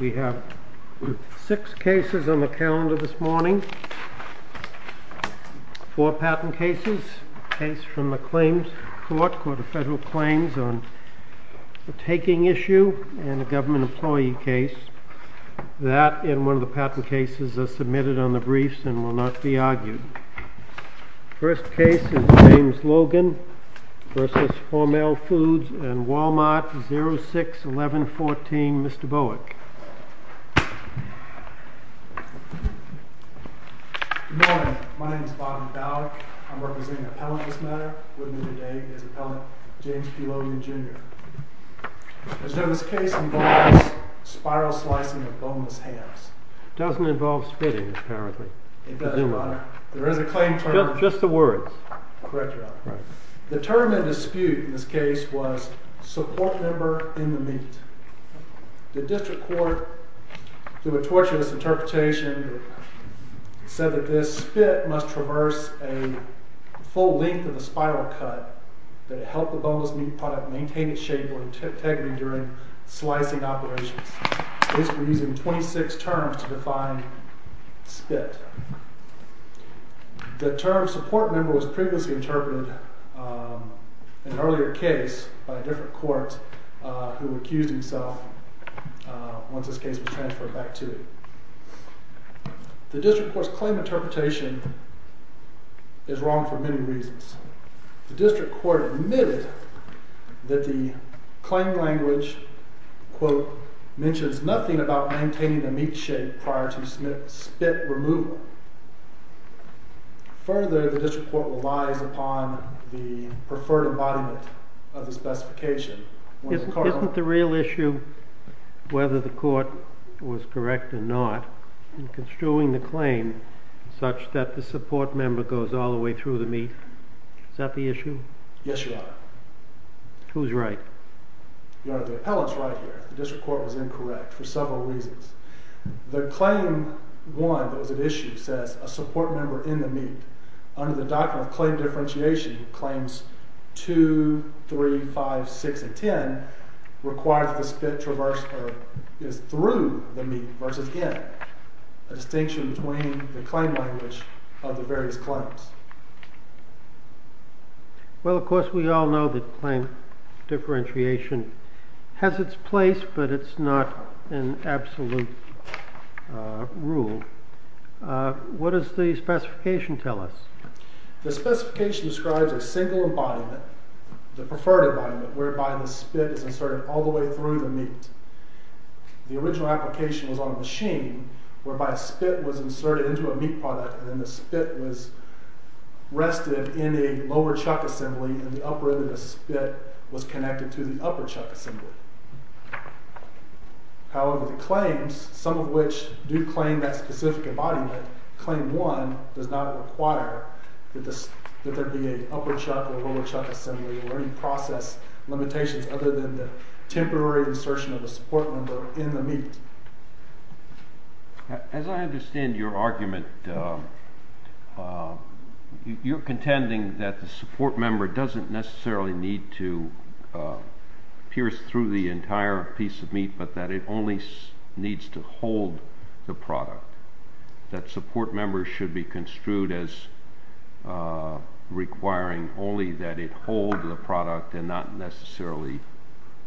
We have six cases on the calendar this morning. Four patent cases, a case from the claims court, court of federal claims on a taking issue and a government employee case. That and one of the patent cases are submitted on the briefs and will not be argued. First case is James Logan v. Hormel Foods and Wal-Mart 061114, Mr. Bowick. Good morning. My name is Bob Bowick. I'm representing the appellant this morning. With me today is appellant James P. Logan, Jr. Mr. Jones, this case involves spiral slicing of boneless hams. It doesn't involve spitting, apparently. It doesn't, Your Honor. There is a claim term. Just the words. Correct, Your Honor. The term in dispute in this case was support member in the meat. The district court, through a torturous interpretation, said that this spit must traverse a full length of the spiral cut to help the boneless meat product maintain its shape or integrity during slicing operations. Basically using 26 terms to define spit. The term support member was previously interpreted in an earlier case by a different court who accused himself once this case was transferred back to it. The district court's claim interpretation is wrong for many reasons. The district court admitted that the claim language, quote, mentions nothing about maintaining the meat shape prior to spit removal. Further, the district court relies upon the preferred embodiment of the specification. Isn't the real issue whether the court was correct or not in construing the claim such that the support member goes all the way through the meat? Is that the issue? Yes, Your Honor. Who's right? Your Honor, the appellant's right here. The district court was incorrect for several reasons. The claim one that was at issue says a support member in the meat. Under the Doctrine of Claim Differentiation, Claims 2, 3, 5, 6, and 10 require that the spit traverse or is through the meat versus in, a distinction between the claim language of the various claims. Well, of course, we all know that claim differentiation has its place, but it's not an absolute rule. What does the specification tell us? The specification describes a single embodiment, the preferred embodiment, whereby the spit is inserted all the way through the meat. The original application was on a machine whereby spit was inserted into a meat product and then the spit was rested in a lower chuck assembly and the upper end of the spit was connected to the upper chuck assembly. However, the claims, some of which do claim that specific embodiment, claim one does not require that there be an upper chuck or a lower chuck assembly or any process limitations other than the temporary insertion of a support member in the meat. As I understand your argument, you're contending that the support member doesn't necessarily need to pierce through the entire piece of meat but that it only needs to hold the product, that support members should be construed as requiring only that it hold the product and not necessarily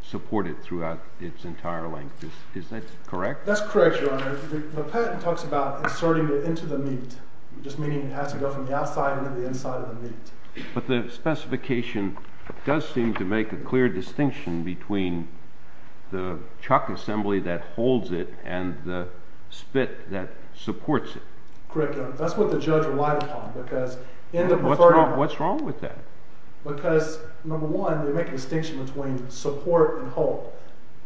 support it throughout its entire length. Is that correct? That's correct, Your Honor. The patent talks about inserting it into the meat, just meaning it has to go from the outside into the inside of the meat. But the specification does seem to make a clear distinction between the chuck assembly that holds it and the spit that supports it. Correct, Your Honor. That's what the judge relied upon. What's wrong with that? Because, number one, they make a distinction between support and hold.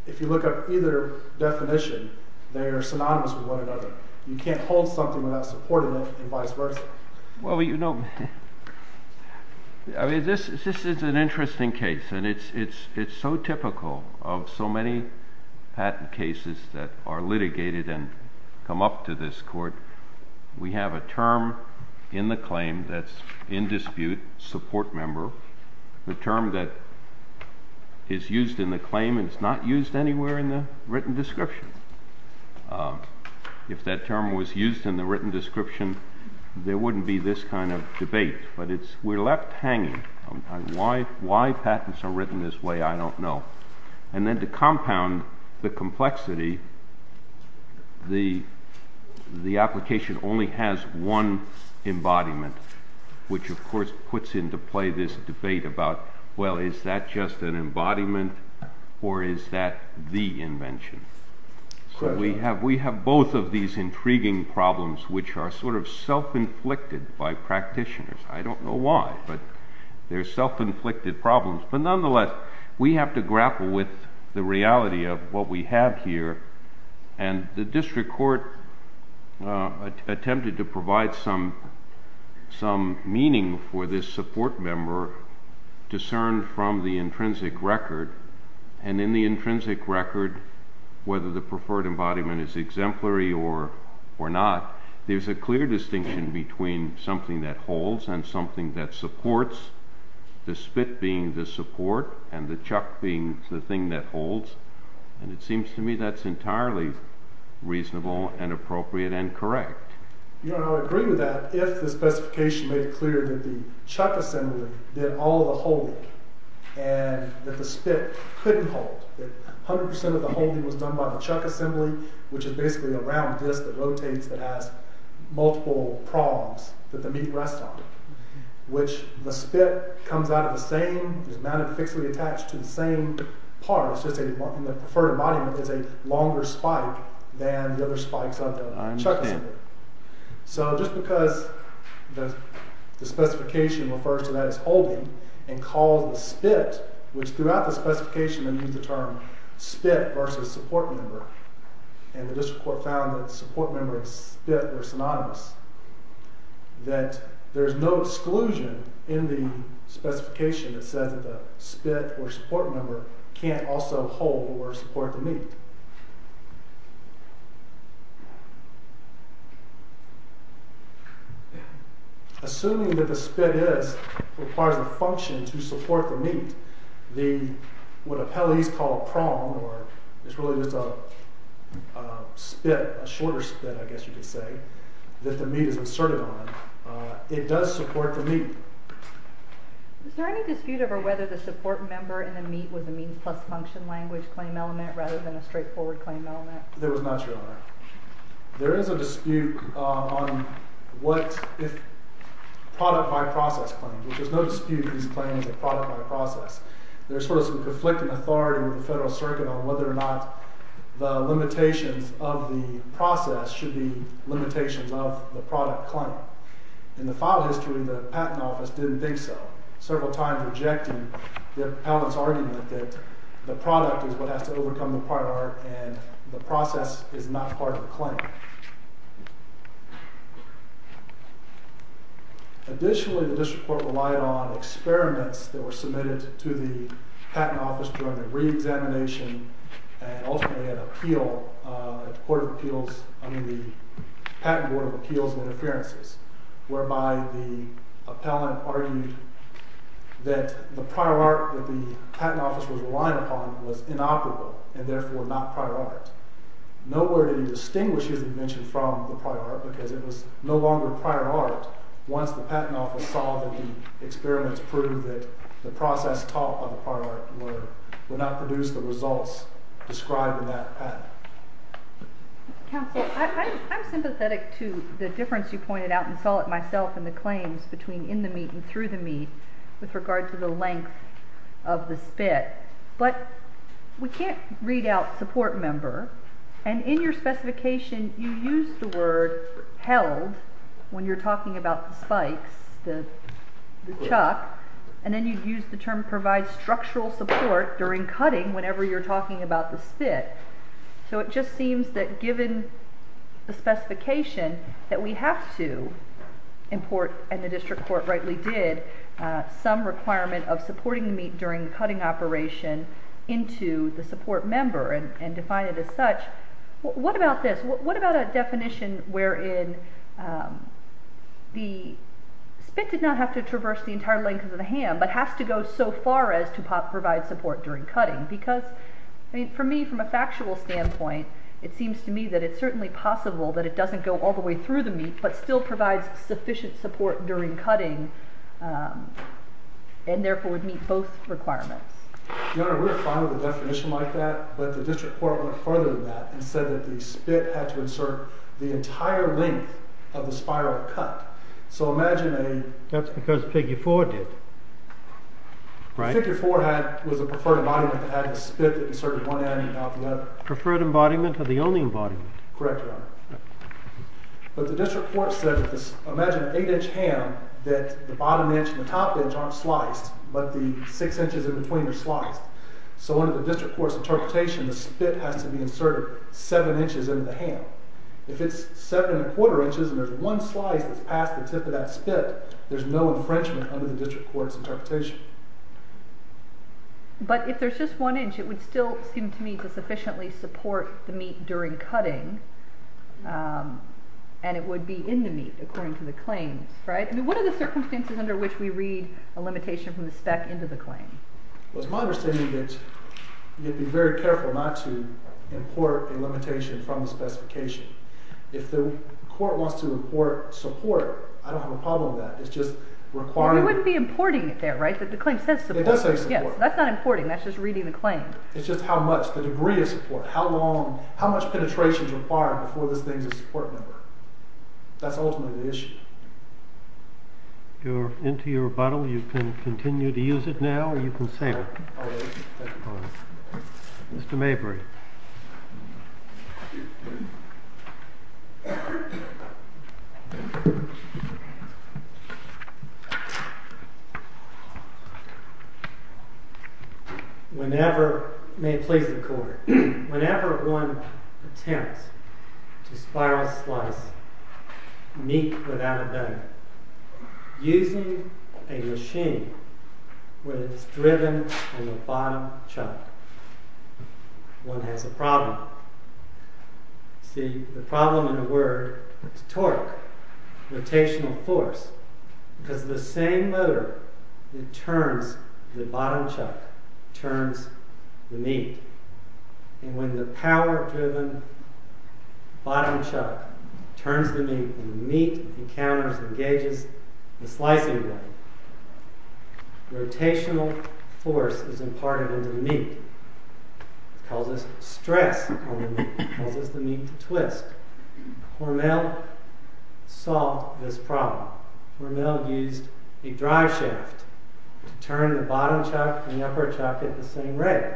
If you look up either definition, they are synonymous with one another. You can't hold something without supporting it and vice versa. Well, you know, this is an interesting case, and it's so typical of so many patent cases that are litigated and come up to this court. We have a term in the claim that's in dispute, support member. The term that is used in the claim is not used anywhere in the written description. If that term was used in the written description, there wouldn't be this kind of debate. But we're left hanging. Why patents are written this way, I don't know. And then to compound the complexity, the application only has one embodiment, which of course puts into play this debate about, well, is that just an embodiment or is that the invention? So we have both of these intriguing problems, which are sort of self-inflicted by practitioners. I don't know why, but they're self-inflicted problems. But nonetheless, we have to grapple with the reality of what we have here. And the district court attempted to provide some meaning for this support member discerned from the intrinsic record. And in the intrinsic record, whether the preferred embodiment is exemplary or not, there's a clear distinction between something that holds and something that supports, the spit being the support and the chuck being the thing that holds. And it seems to me that's entirely reasonable and appropriate and correct. I agree with that if the specification made it clear that the chuck assembly did all the holding and that the spit couldn't hold. That 100% of the holding was done by the chuck assembly, which is basically a round disc that rotates that has multiple prongs that the meat rests on, which the spit comes out of the same, is mounted fixedly attached to the same part. The preferred embodiment is a longer spike than the other spikes of the chuck assembly. So just because the specification refers to that as holding and calls the spit, which throughout the specification they used the term spit versus support member, and the district court found that support member and spit were synonymous, that there's no exclusion in the specification that says that the spit or support member can't also hold or support the meat. Assuming that the spit requires a function to support the meat, what appellees call a prong, or it's really just a spit, a shorter spit I guess you could say, that the meat is inserted on, it does support the meat. Is there any dispute over whether the support member and the meat was a means plus function language claim element rather than a straightforward claim element? There was not, Your Honor. There is a dispute on what if product by process claims, which there's no dispute that these claims are product by process. There's sort of some conflicting authority with the Federal Circuit on whether or not the limitations of the process should be limitations of the product claim. In the file history, the Patent Office didn't think so, several times rejecting Allen's argument that the product is what has to overcome the prior art and the process is not part of the claim. Additionally, the district court relied on experiments that were submitted to the Patent Office during the reexamination and ultimately an appeal, a court of appeals, I mean the Patent Board of Appeals and Interferences, whereby the appellant argued that the prior art that the Patent Office was relying upon was inoperable and therefore not prior art. Nowhere did he distinguish his invention from the prior art because it was no longer prior art once the Patent Office saw that the experiments proved that the process taught by the prior art would not produce the results described in that patent. Counsel, I'm sympathetic to the difference you pointed out and saw it myself in the claims between in the meat and through the meat with regard to the length of the spit, but we can't read out support member and in your specification you use the word held when you're talking about the spikes, the chuck, and then you use the term provide structural support during cutting whenever you're talking about the spit. So it just seems that given the specification that we have to import, and the district court rightly did, some requirement of supporting the meat during the cutting operation into the support member and define it as such. What about this? What about a definition wherein the spit did not have to traverse the entire length of the ham but has to go so far as to provide support during cutting? Because for me, from a factual standpoint, it seems to me that it's certainly possible that it doesn't go all the way through the meat but still provides sufficient support during cutting and therefore would meet both requirements. Your Honor, we're fine with a definition like that, but the district court went further than that and said that the spit had to insert the entire length of the spiral cut. So imagine a... That's because Figure 4 did. Figure 4 was a preferred embodiment that had the spit that inserted one end and out the other. Preferred embodiment or the only embodiment? Correct, Your Honor. But the district court said that imagine an 8-inch ham that the bottom edge and the top edge aren't sliced, but the 6 inches in between are sliced. So under the district court's interpretation, the spit has to be inserted 7 inches into the ham. If it's 7 1⁄4 inches and there's one slice that's past the tip of that spit, there's no infringement under the district court's interpretation. But if there's just 1 inch, it would still seem to me to sufficiently support the meat during cutting, and it would be in the meat, according to the claims, right? I mean, what are the circumstances under which we read a limitation from the spec into the claim? Well, it's my understanding that you'd be very careful not to import a limitation from the specification. If the court wants to import support, I don't have a problem with that. It's just requiring... Well, you wouldn't be importing it there, right? The claim says support. It does say support. That's not importing. That's just reading the claim. It's just how much, the degree of support, how much penetration is required before this thing's a support number. That's ultimately the issue. You're into your bottle. You can continue to use it now, or you can save it. Mr. Mabry. Whenever... May it please the court. Whenever one attempts to spiral slice meat without a knife, using a machine where it's driven in the bottom chuck, one has a problem. See, the problem in a word is torque, rotational force, because the same motor that turns the bottom chuck turns the meat. And when the power-driven bottom chuck turns the meat and the meat encounters and engages the slicing blade, rotational force is imparted into the meat. It causes stress on the meat. It causes the meat to twist. Hormel solved this problem. Hormel used a drive shaft to turn the bottom chuck and the upper chuck at the same rate.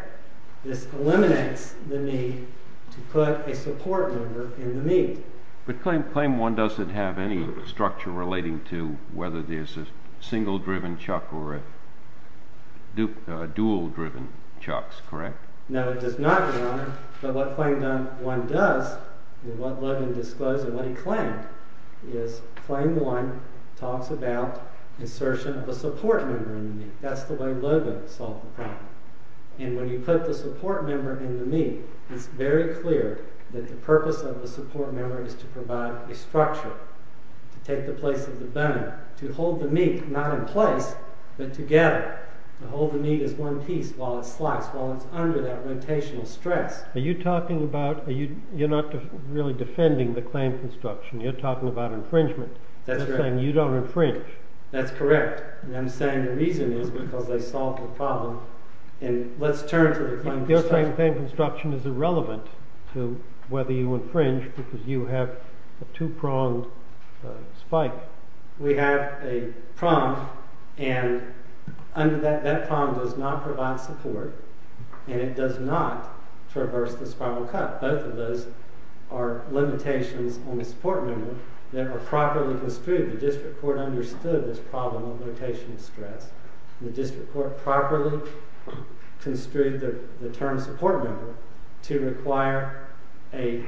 This eliminates the need to put a support number in the meat. But claim one doesn't have any structure relating to whether there's a single-driven chuck or a dual-driven chuck, correct? No, it does not, Your Honor. But what claim one does, and what Logan disclosed and what he claimed, is claim one talks about insertion of a support number in the meat. That's the way Logan solved the problem. And when you put the support number in the meat, it's very clear that the purpose of the support number is to provide a structure, to take the place of the bone, to hold the meat not in place, but together, to hold the meat as one piece while it's sliced, while it's under that rotational stress. Are you talking about... You're not really defending the claim construction. You're talking about infringement. That's right. You're saying you don't infringe. That's correct. And I'm saying the reason is because they solved the problem. And let's turn to the claim construction. The claim construction is irrelevant to whether you infringe because you have a two-pronged spike. We have a prong, and that prong does not provide support, and it does not traverse the spiral cut. Both of those are limitations on the support number that are properly construed. The district court understood this problem of rotational stress. The district court properly construed the term support number to require a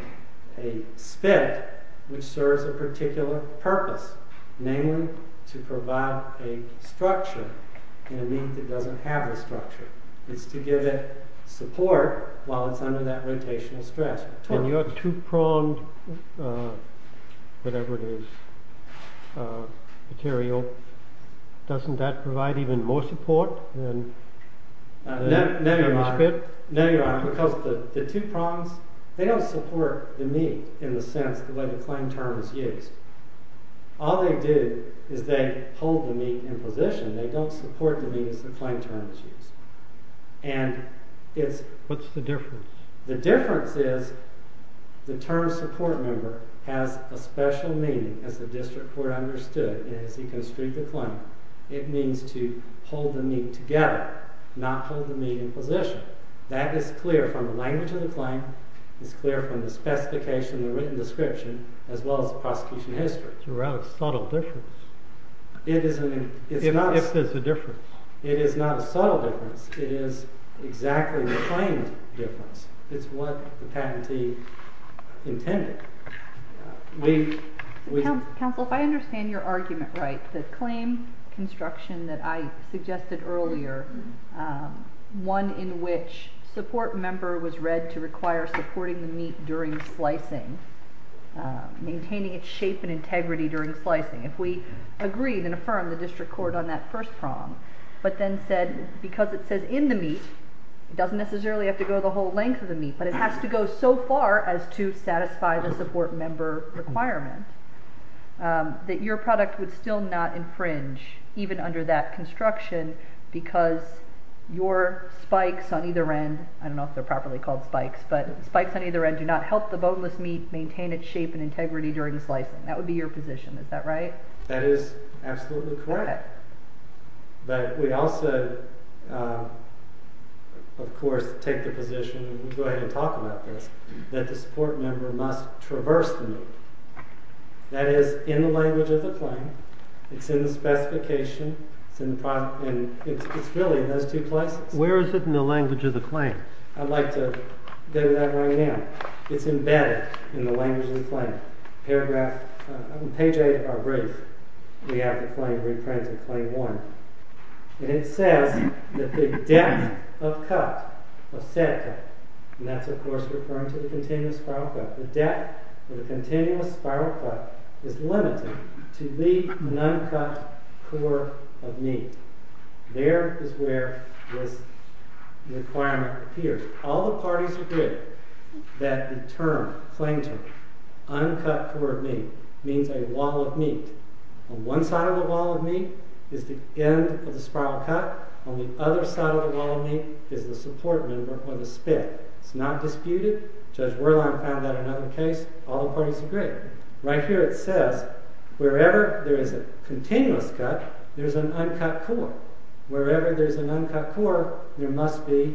spit which serves a particular purpose, namely to provide a structure in a meat that doesn't have a structure. It's to give it support while it's under that rotational stress. And your two-pronged, whatever it is, material, doesn't that provide even more support than a spit? No, Your Honor, because the two prongs, they don't support the meat in the sense the way the claim term is used. All they do is they hold the meat in position. They don't support the meat as the claim term is used. And it's... What's the difference? The difference is the term support number has a special meaning, as the district court understood it as he construed the claim. It means to hold the meat together, not hold the meat in position. That is clear from the language of the claim. It's clear from the specification, the written description, as well as the prosecution history. It's a rather subtle difference. It is an... If there's a difference. It is not a subtle difference. It is exactly the claimed difference. It's what the patentee intended. Counsel, if I understand your argument right, the claim construction that I suggested earlier, one in which support member was read to require supporting the meat during slicing, maintaining its shape and integrity during slicing. If we agreed and affirmed the district court on that first prong, but then said because it says in the meat, it doesn't necessarily have to go the whole length of the meat, but it has to go so far as to satisfy the support member requirement, that your product would still not infringe, even under that construction, because your spikes on either end, I don't know if they're properly called spikes, but spikes on either end do not help the boneless meat maintain its shape and integrity during slicing. That would be your position, is that right? That is absolutely correct. Okay. But we also, of course, take the position, and we'll go ahead and talk about this, that the support member must traverse the meat. That is, in the language of the claim, it's in the specification, and it's really in those two places. Where is it in the language of the claim? I'd like to go to that right now. It's embedded in the language of the claim. In page 8 of our brief, we have the claim reprinted, claim one. And it says that the depth of cut, of said cut, and that's, of course, referring to the continuous spiral cut, the depth of the continuous spiral cut is limited to the non-cut core of meat. There is where this requirement appears. All the parties agree that the term, the claim term, uncut core of meat, means a wall of meat. On one side of the wall of meat is the end of the spiral cut. On the other side of the wall of meat is the support member, or the spit. It's not disputed. Judge Werlein found that in another case. All the parties agree. Right here it says, wherever there is a continuous cut, there's an uncut core. Wherever there's an uncut core, there must be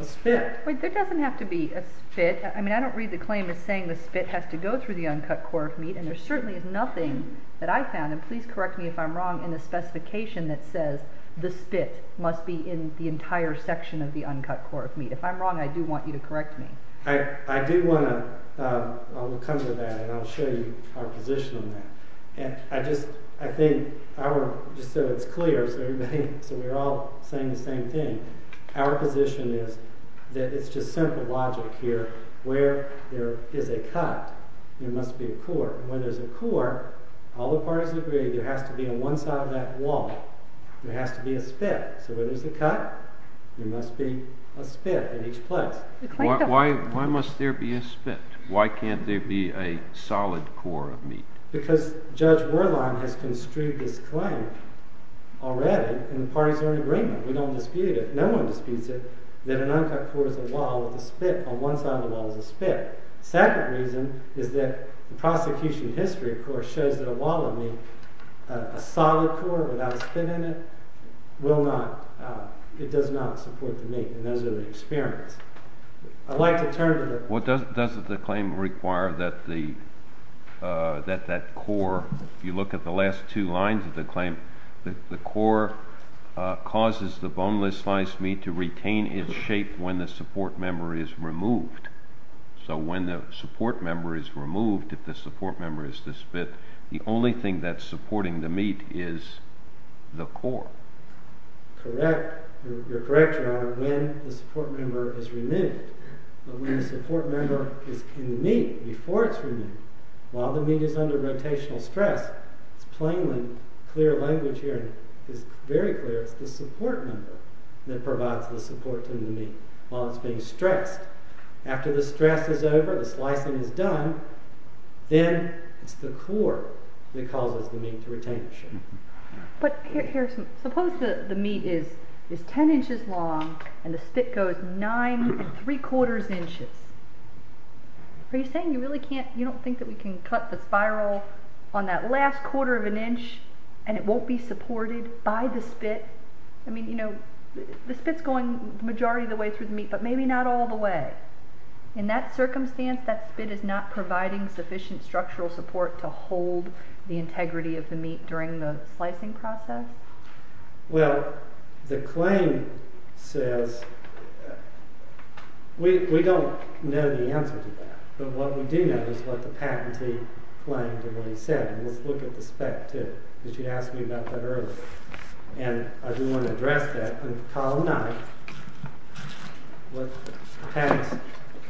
a spit. Wait, there doesn't have to be a spit. I mean, I don't read the claim as saying the spit has to go through the uncut core of meat, and there certainly is nothing that I found, and please correct me if I'm wrong, in the specification that says the spit must be in the entire section of the uncut core of meat. If I'm wrong, I do want you to correct me. I do want to come to that, and I'll show you our position on that. I think, just so it's clear, so we're all saying the same thing, our position is that it's just simple logic here. Where there is a cut, there must be a core. And where there's a core, all the parties agree there has to be on one side of that wall, there has to be a spit. So where there's a cut, there must be a spit in each place. Why must there be a spit? Why can't there be a solid core of meat? Because Judge Werlein has construed this claim already, and the parties are in agreement. We don't dispute it. No one disputes it, that an uncut core is a wall with a spit. On one side of the wall is a spit. The second reason is that the prosecution history, of course, shows that a wall of meat, a solid core without a spit in it, will not, it does not support the meat, and those are the experiments. I'd like to turn to the... Well, doesn't the claim require that that core, if you look at the last two lines of the claim, that the core causes the boneless sliced meat to retain its shape when the support member is removed. So when the support member is removed, if the support member is the spit, the only thing that's supporting the meat is the core. Correct. You're correct, Your Honor, when the support member is removed. But when the support member is in the meat, before it's removed, while the meat is under rotational stress, it's plainly clear language here, it's very clear, it's the support member that provides the support to the meat while it's being stressed. After the stress is over, the slicing is done, then it's the core that causes the meat to retain its shape. But here's, suppose the meat is 10 inches long and the spit goes 9 3 quarters inches. Are you saying you really can't, you don't think that we can cut the spiral on that last quarter of an inch and it won't be supported by the spit? I mean, you know, the spit's going the majority of the way through the meat, but maybe not all the way. In that circumstance, that spit is not providing sufficient structural support to hold the integrity of the meat during the slicing process? Well, the claim says, we don't know the answer to that, but what we do know is what the patentee claimed and what he said, and let's look at the spec too, because you asked me about that earlier, and I do want to address that. In column 9, what Pat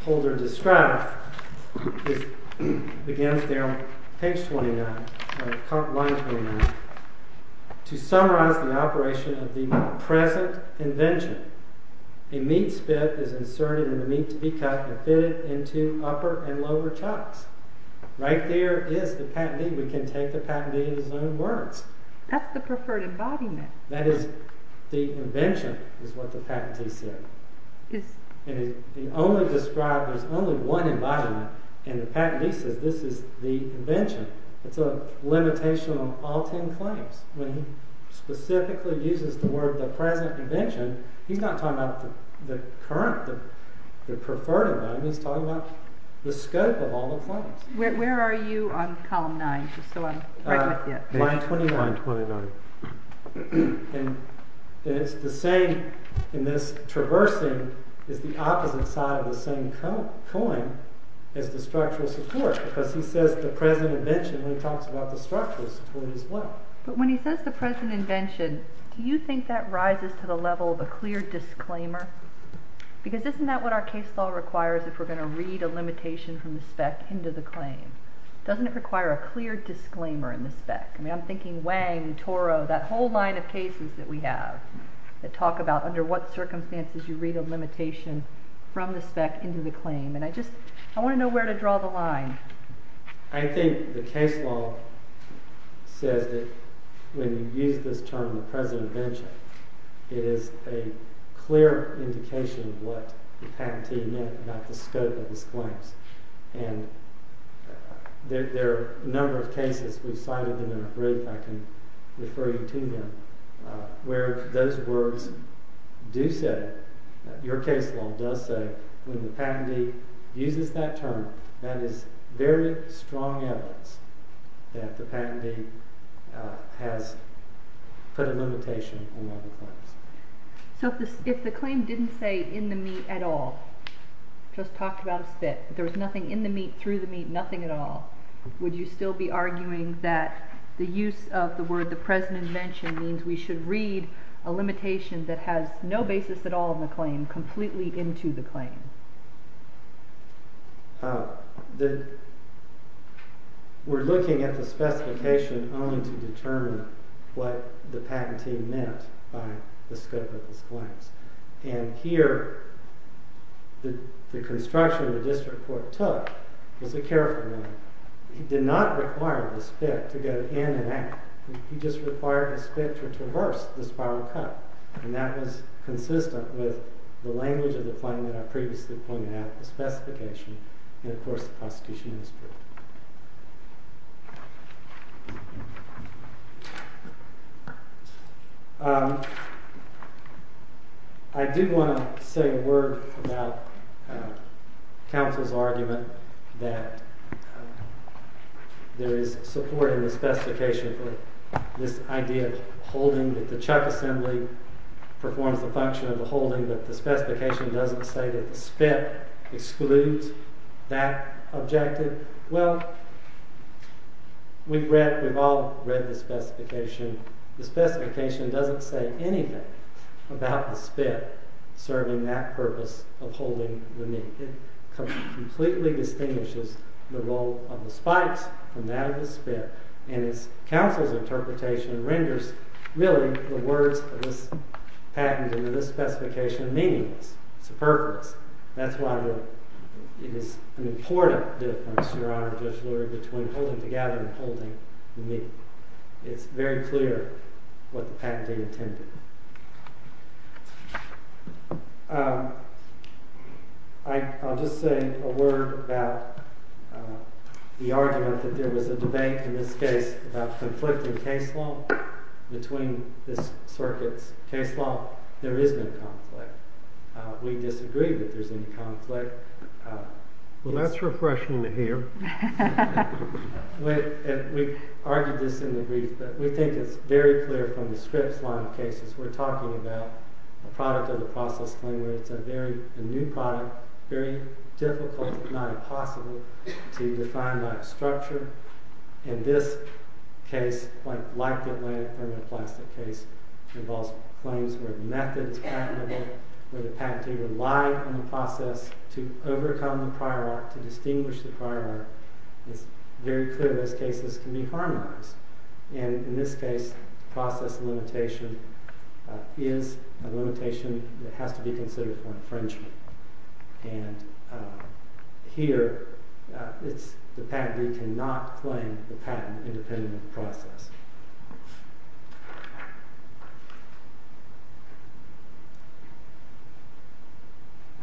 Holder described, begins there on page 29, or line 29, to summarize the operation of the present invention. A meat spit is inserted in the meat to be cut and fitted into upper and lower chucks. Right there is the patentee. We can take the patentee in his own words. That's the preferred embodiment. That is the invention, is what the patentee said. He only described, there's only one embodiment, and the patentee says, this is the invention. It's a limitation on all ten claims. When he specifically uses the word, the present invention, he's not talking about the current, the preferred embodiment, he's talking about the scope of all the claims. Where are you on column 9, just so I'm right with you? Line 29. And it's the same, in this traversing, is the opposite side of the same coin as the structural support, because he says the present invention when he talks about the structural support as well. But when he says the present invention, do you think that rises to the level of a clear disclaimer? Because isn't that what our case law requires if we're going to read a limitation from the spec into the claim? Doesn't it require a clear disclaimer in the spec? I'm thinking Wang, Toro, that whole line of cases that we have that talk about under what circumstances you read a limitation from the spec into the claim. And I just, I want to know where to draw the line. I think the case law says that when you use this term, the present invention, it is a clear indication of what the patentee meant about the scope of his claims. And there are a number of cases, we've cited them in a brief, I can refer you to them, where those words do say, your case law does say, when the patentee uses that term, that is very strong evidence that the patentee has put a limitation on other claims. So if the claim didn't say in the meat at all, just talked about a spit, but there was nothing in the meat, through the meat, nothing at all, would you still be arguing that the use of the word the present invention means we should read a limitation that has no basis at all in the claim, completely into the claim? We're looking at the specification only to determine what the patentee meant by the scope of his claims. And here, the construction the district court took was a careful one. He did not require the spit to go in and out, he just required the spit to traverse the spiral cut. And that was consistent with the language of the claim that I previously pointed out, the specification, and of course, the prosecution district. I do want to say a word about counsel's argument that there is support in the specification for this idea of holding that the chuck assembly performs the function of the holding, but the specification doesn't say that the spit excludes that objective. Well, we've read, we've all read the specification. The specification doesn't say anything about the spit serving that purpose of holding the meat. It completely distinguishes the role of the spikes from that of the spit, and it's counsel's interpretation renders really the words of this patent and of this specification meaningless, superfluous. That's why it is an important difference, Your Honor, Judge Lurie, between holding together and holding the meat. It's very clear what the patentee intended. I'll just say a word about the argument that there was a debate in this case about conflicting case law between this circuit's case law. There is no conflict. We disagree that there's any conflict. Well, that's refreshing to hear. We argued this in the brief, but we think it's very clear from the Scripps line of cases. We're talking about a product of the process claim where it's a new product, very difficult, if not impossible, to define by a structure. In this case, like the Atlantic thermoplastic case, involves claims where the method's patentable, where the patentee relied on the process to overcome the prior art, to distinguish the prior art. It's very clear those cases can be harmonized. In this case, the process limitation is a limitation that has to be considered for infringement. Here, the patentee cannot claim the patent-independent process.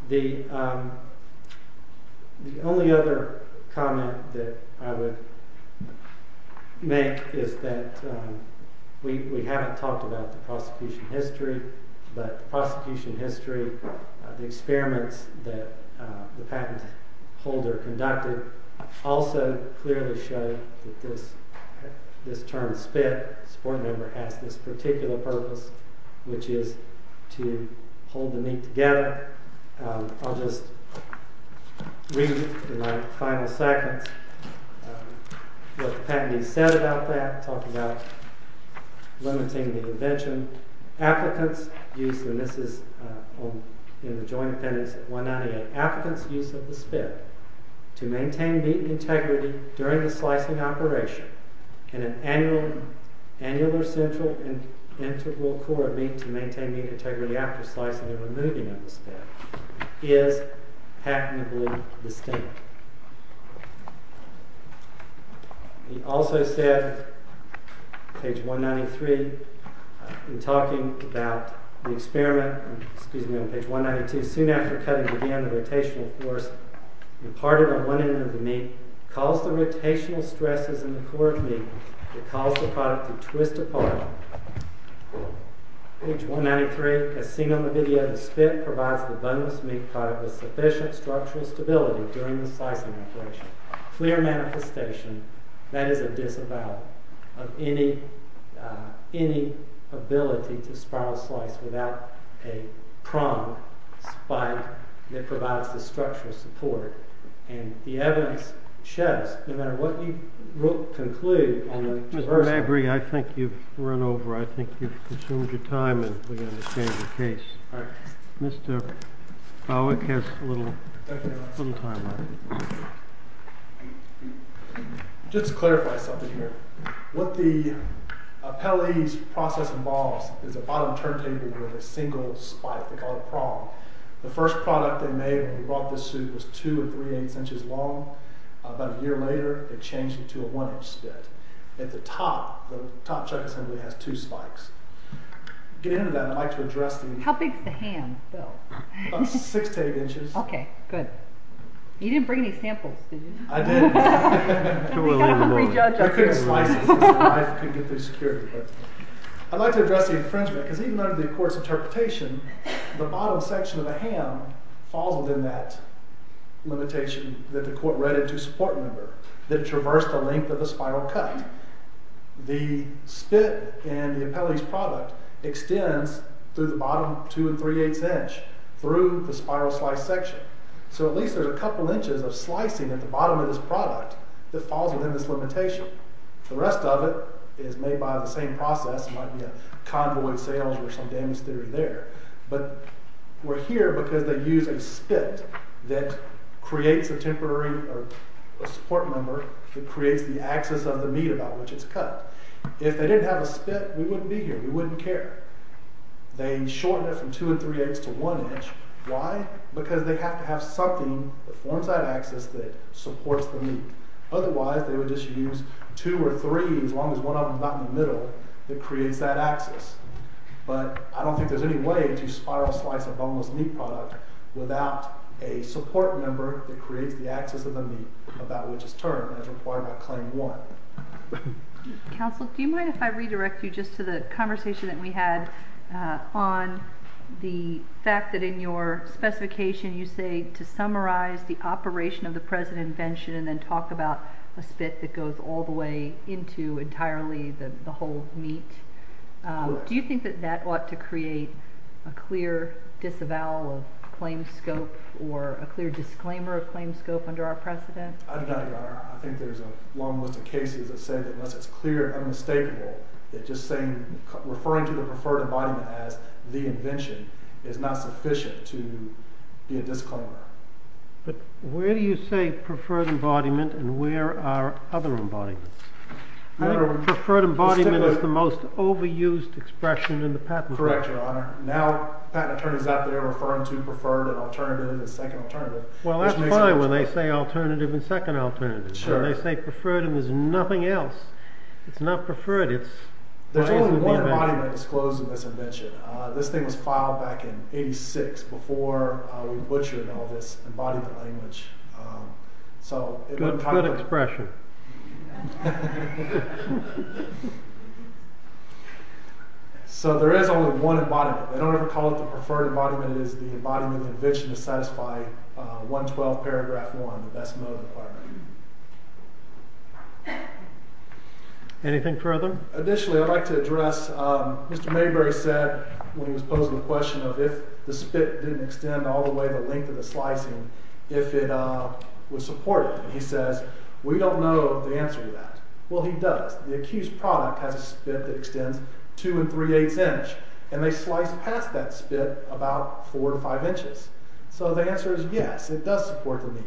The only other comment that I would make is that we haven't talked about the prosecution history, but the prosecution history, the experiments that the patent holder conducted also clearly show that this term is valid. The support member has this particular purpose, which is to hold the meat together. I'll just read in my final seconds what the patentee said about that, talking about limiting the invention. Applicants use, and this is in the joint appendix, 198, applicants use of the spit to maintain meat integrity during the slicing operation and an annular central integral core of meat to maintain meat integrity after slicing and removing of the spit is patentably distinct. He also said, page 193, in talking about the experiment, excuse me, on page 192, soon after cutting began the rotational force imparted on one end of the meat caused the rotational stresses in the core of meat that caused the product to twist apart. Page 193, as seen on the video, the spit provides the buttonless meat product with sufficient structural stability during the slicing operation. Clear manifestation, that is a disavowal of any ability to spiral slice without a prong spike that provides the structural support. And the evidence sheds, no matter what you conclude. Mr. Mabry, I think you've run over. I think you've consumed your time and we've got to change the case. Mr. Bowick has a little time left. Just to clarify something here. What the appellee's process involves is a bottom turntable with a single spike, they call it a prong. The first product they made when they brought this suit was two or three-eighths inches long. About a year later, it changed into a one-inch spit. At the top, the top chuck assembly has two spikes. Getting into that, I'd like to address the... How big is the ham, Bill? About six to eight inches. Okay, good. You didn't bring any samples, did you? I didn't. We got a free judge up here. We couldn't slice it because my wife couldn't get through security. I'd like to address the infringement because even under the court's interpretation, the bottom section of the ham falls within that limitation that the court read into support member that traversed the length of the spiral cut. The spit in the appellee's product extends through the bottom two and three-eighths inch through the spiral slice section. So at least there's a couple inches of slicing at the bottom of this product that falls within this limitation. The rest of it is made by the same process. It might be a convoy of sales or some damage theory there. But we're here because they use a spit that creates a temporary support member that creates the axis of the meat about which it's cut. If they didn't have a spit, we wouldn't be here. We wouldn't care. They shorten it from two and three-eighths to one inch. Why? Because they have to have something that forms that axis that supports the meat. Otherwise, they would just use two or three, as long as one of them's not in the middle, that creates that axis. But I don't think there's any way to spiral slice a boneless meat product without a support member that creates the axis of the meat about which it's turned, as required by Claim 1. Counsel, do you mind if I redirect you just to the conversation that we had on the fact that in your specification, you say to summarize the operation of the present invention and then talk about a spit that goes all the way into entirely the whole meat? Do you think that that ought to create a clear disavowal of claim scope or a clear disclaimer of claim scope under our precedent? I think there's a long list of cases that say that unless it's clear and unmistakable that just referring to the preferred embodiment as the invention is not sufficient to be a disclaimer. But where do you say preferred embodiment and where are other embodiments? I think preferred embodiment is the most overused expression in the patent law. Correct, Your Honor. Now patent attorneys out there are referring to preferred and alternative as second alternative. Well, that's fine when they say alternative and second alternative. When they say preferred and there's nothing else, it's not preferred, it's... There's only one embodiment disclosed in this invention. This thing was filed back in 86 before we butchered all this embodied language. Good, good expression. Thank you. So there is only one embodiment. They don't ever call it the preferred embodiment. It is the embodiment of the invention to satisfy 112 paragraph one, the best mode requirement. Anything further? Additionally, I'd like to address... Mr. Mayberry said when he was posing the question of if the spit didn't extend all the way to the length of the slicing, if it was supported. And he says, we don't know the answer to that. Well, he does. The accused product has a spit that extends two and three-eighths inch. And they slice past that spit about four to five inches. So the answer is yes, it does support the need.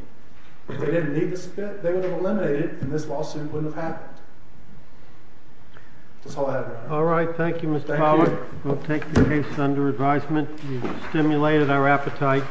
If they didn't need the spit, they would have eliminated it and this lawsuit wouldn't have happened. That's all I have, Your Honor. All right, thank you, Mr. Pollack. Thank you. We'll take the case under advisement. You've stimulated our appetite.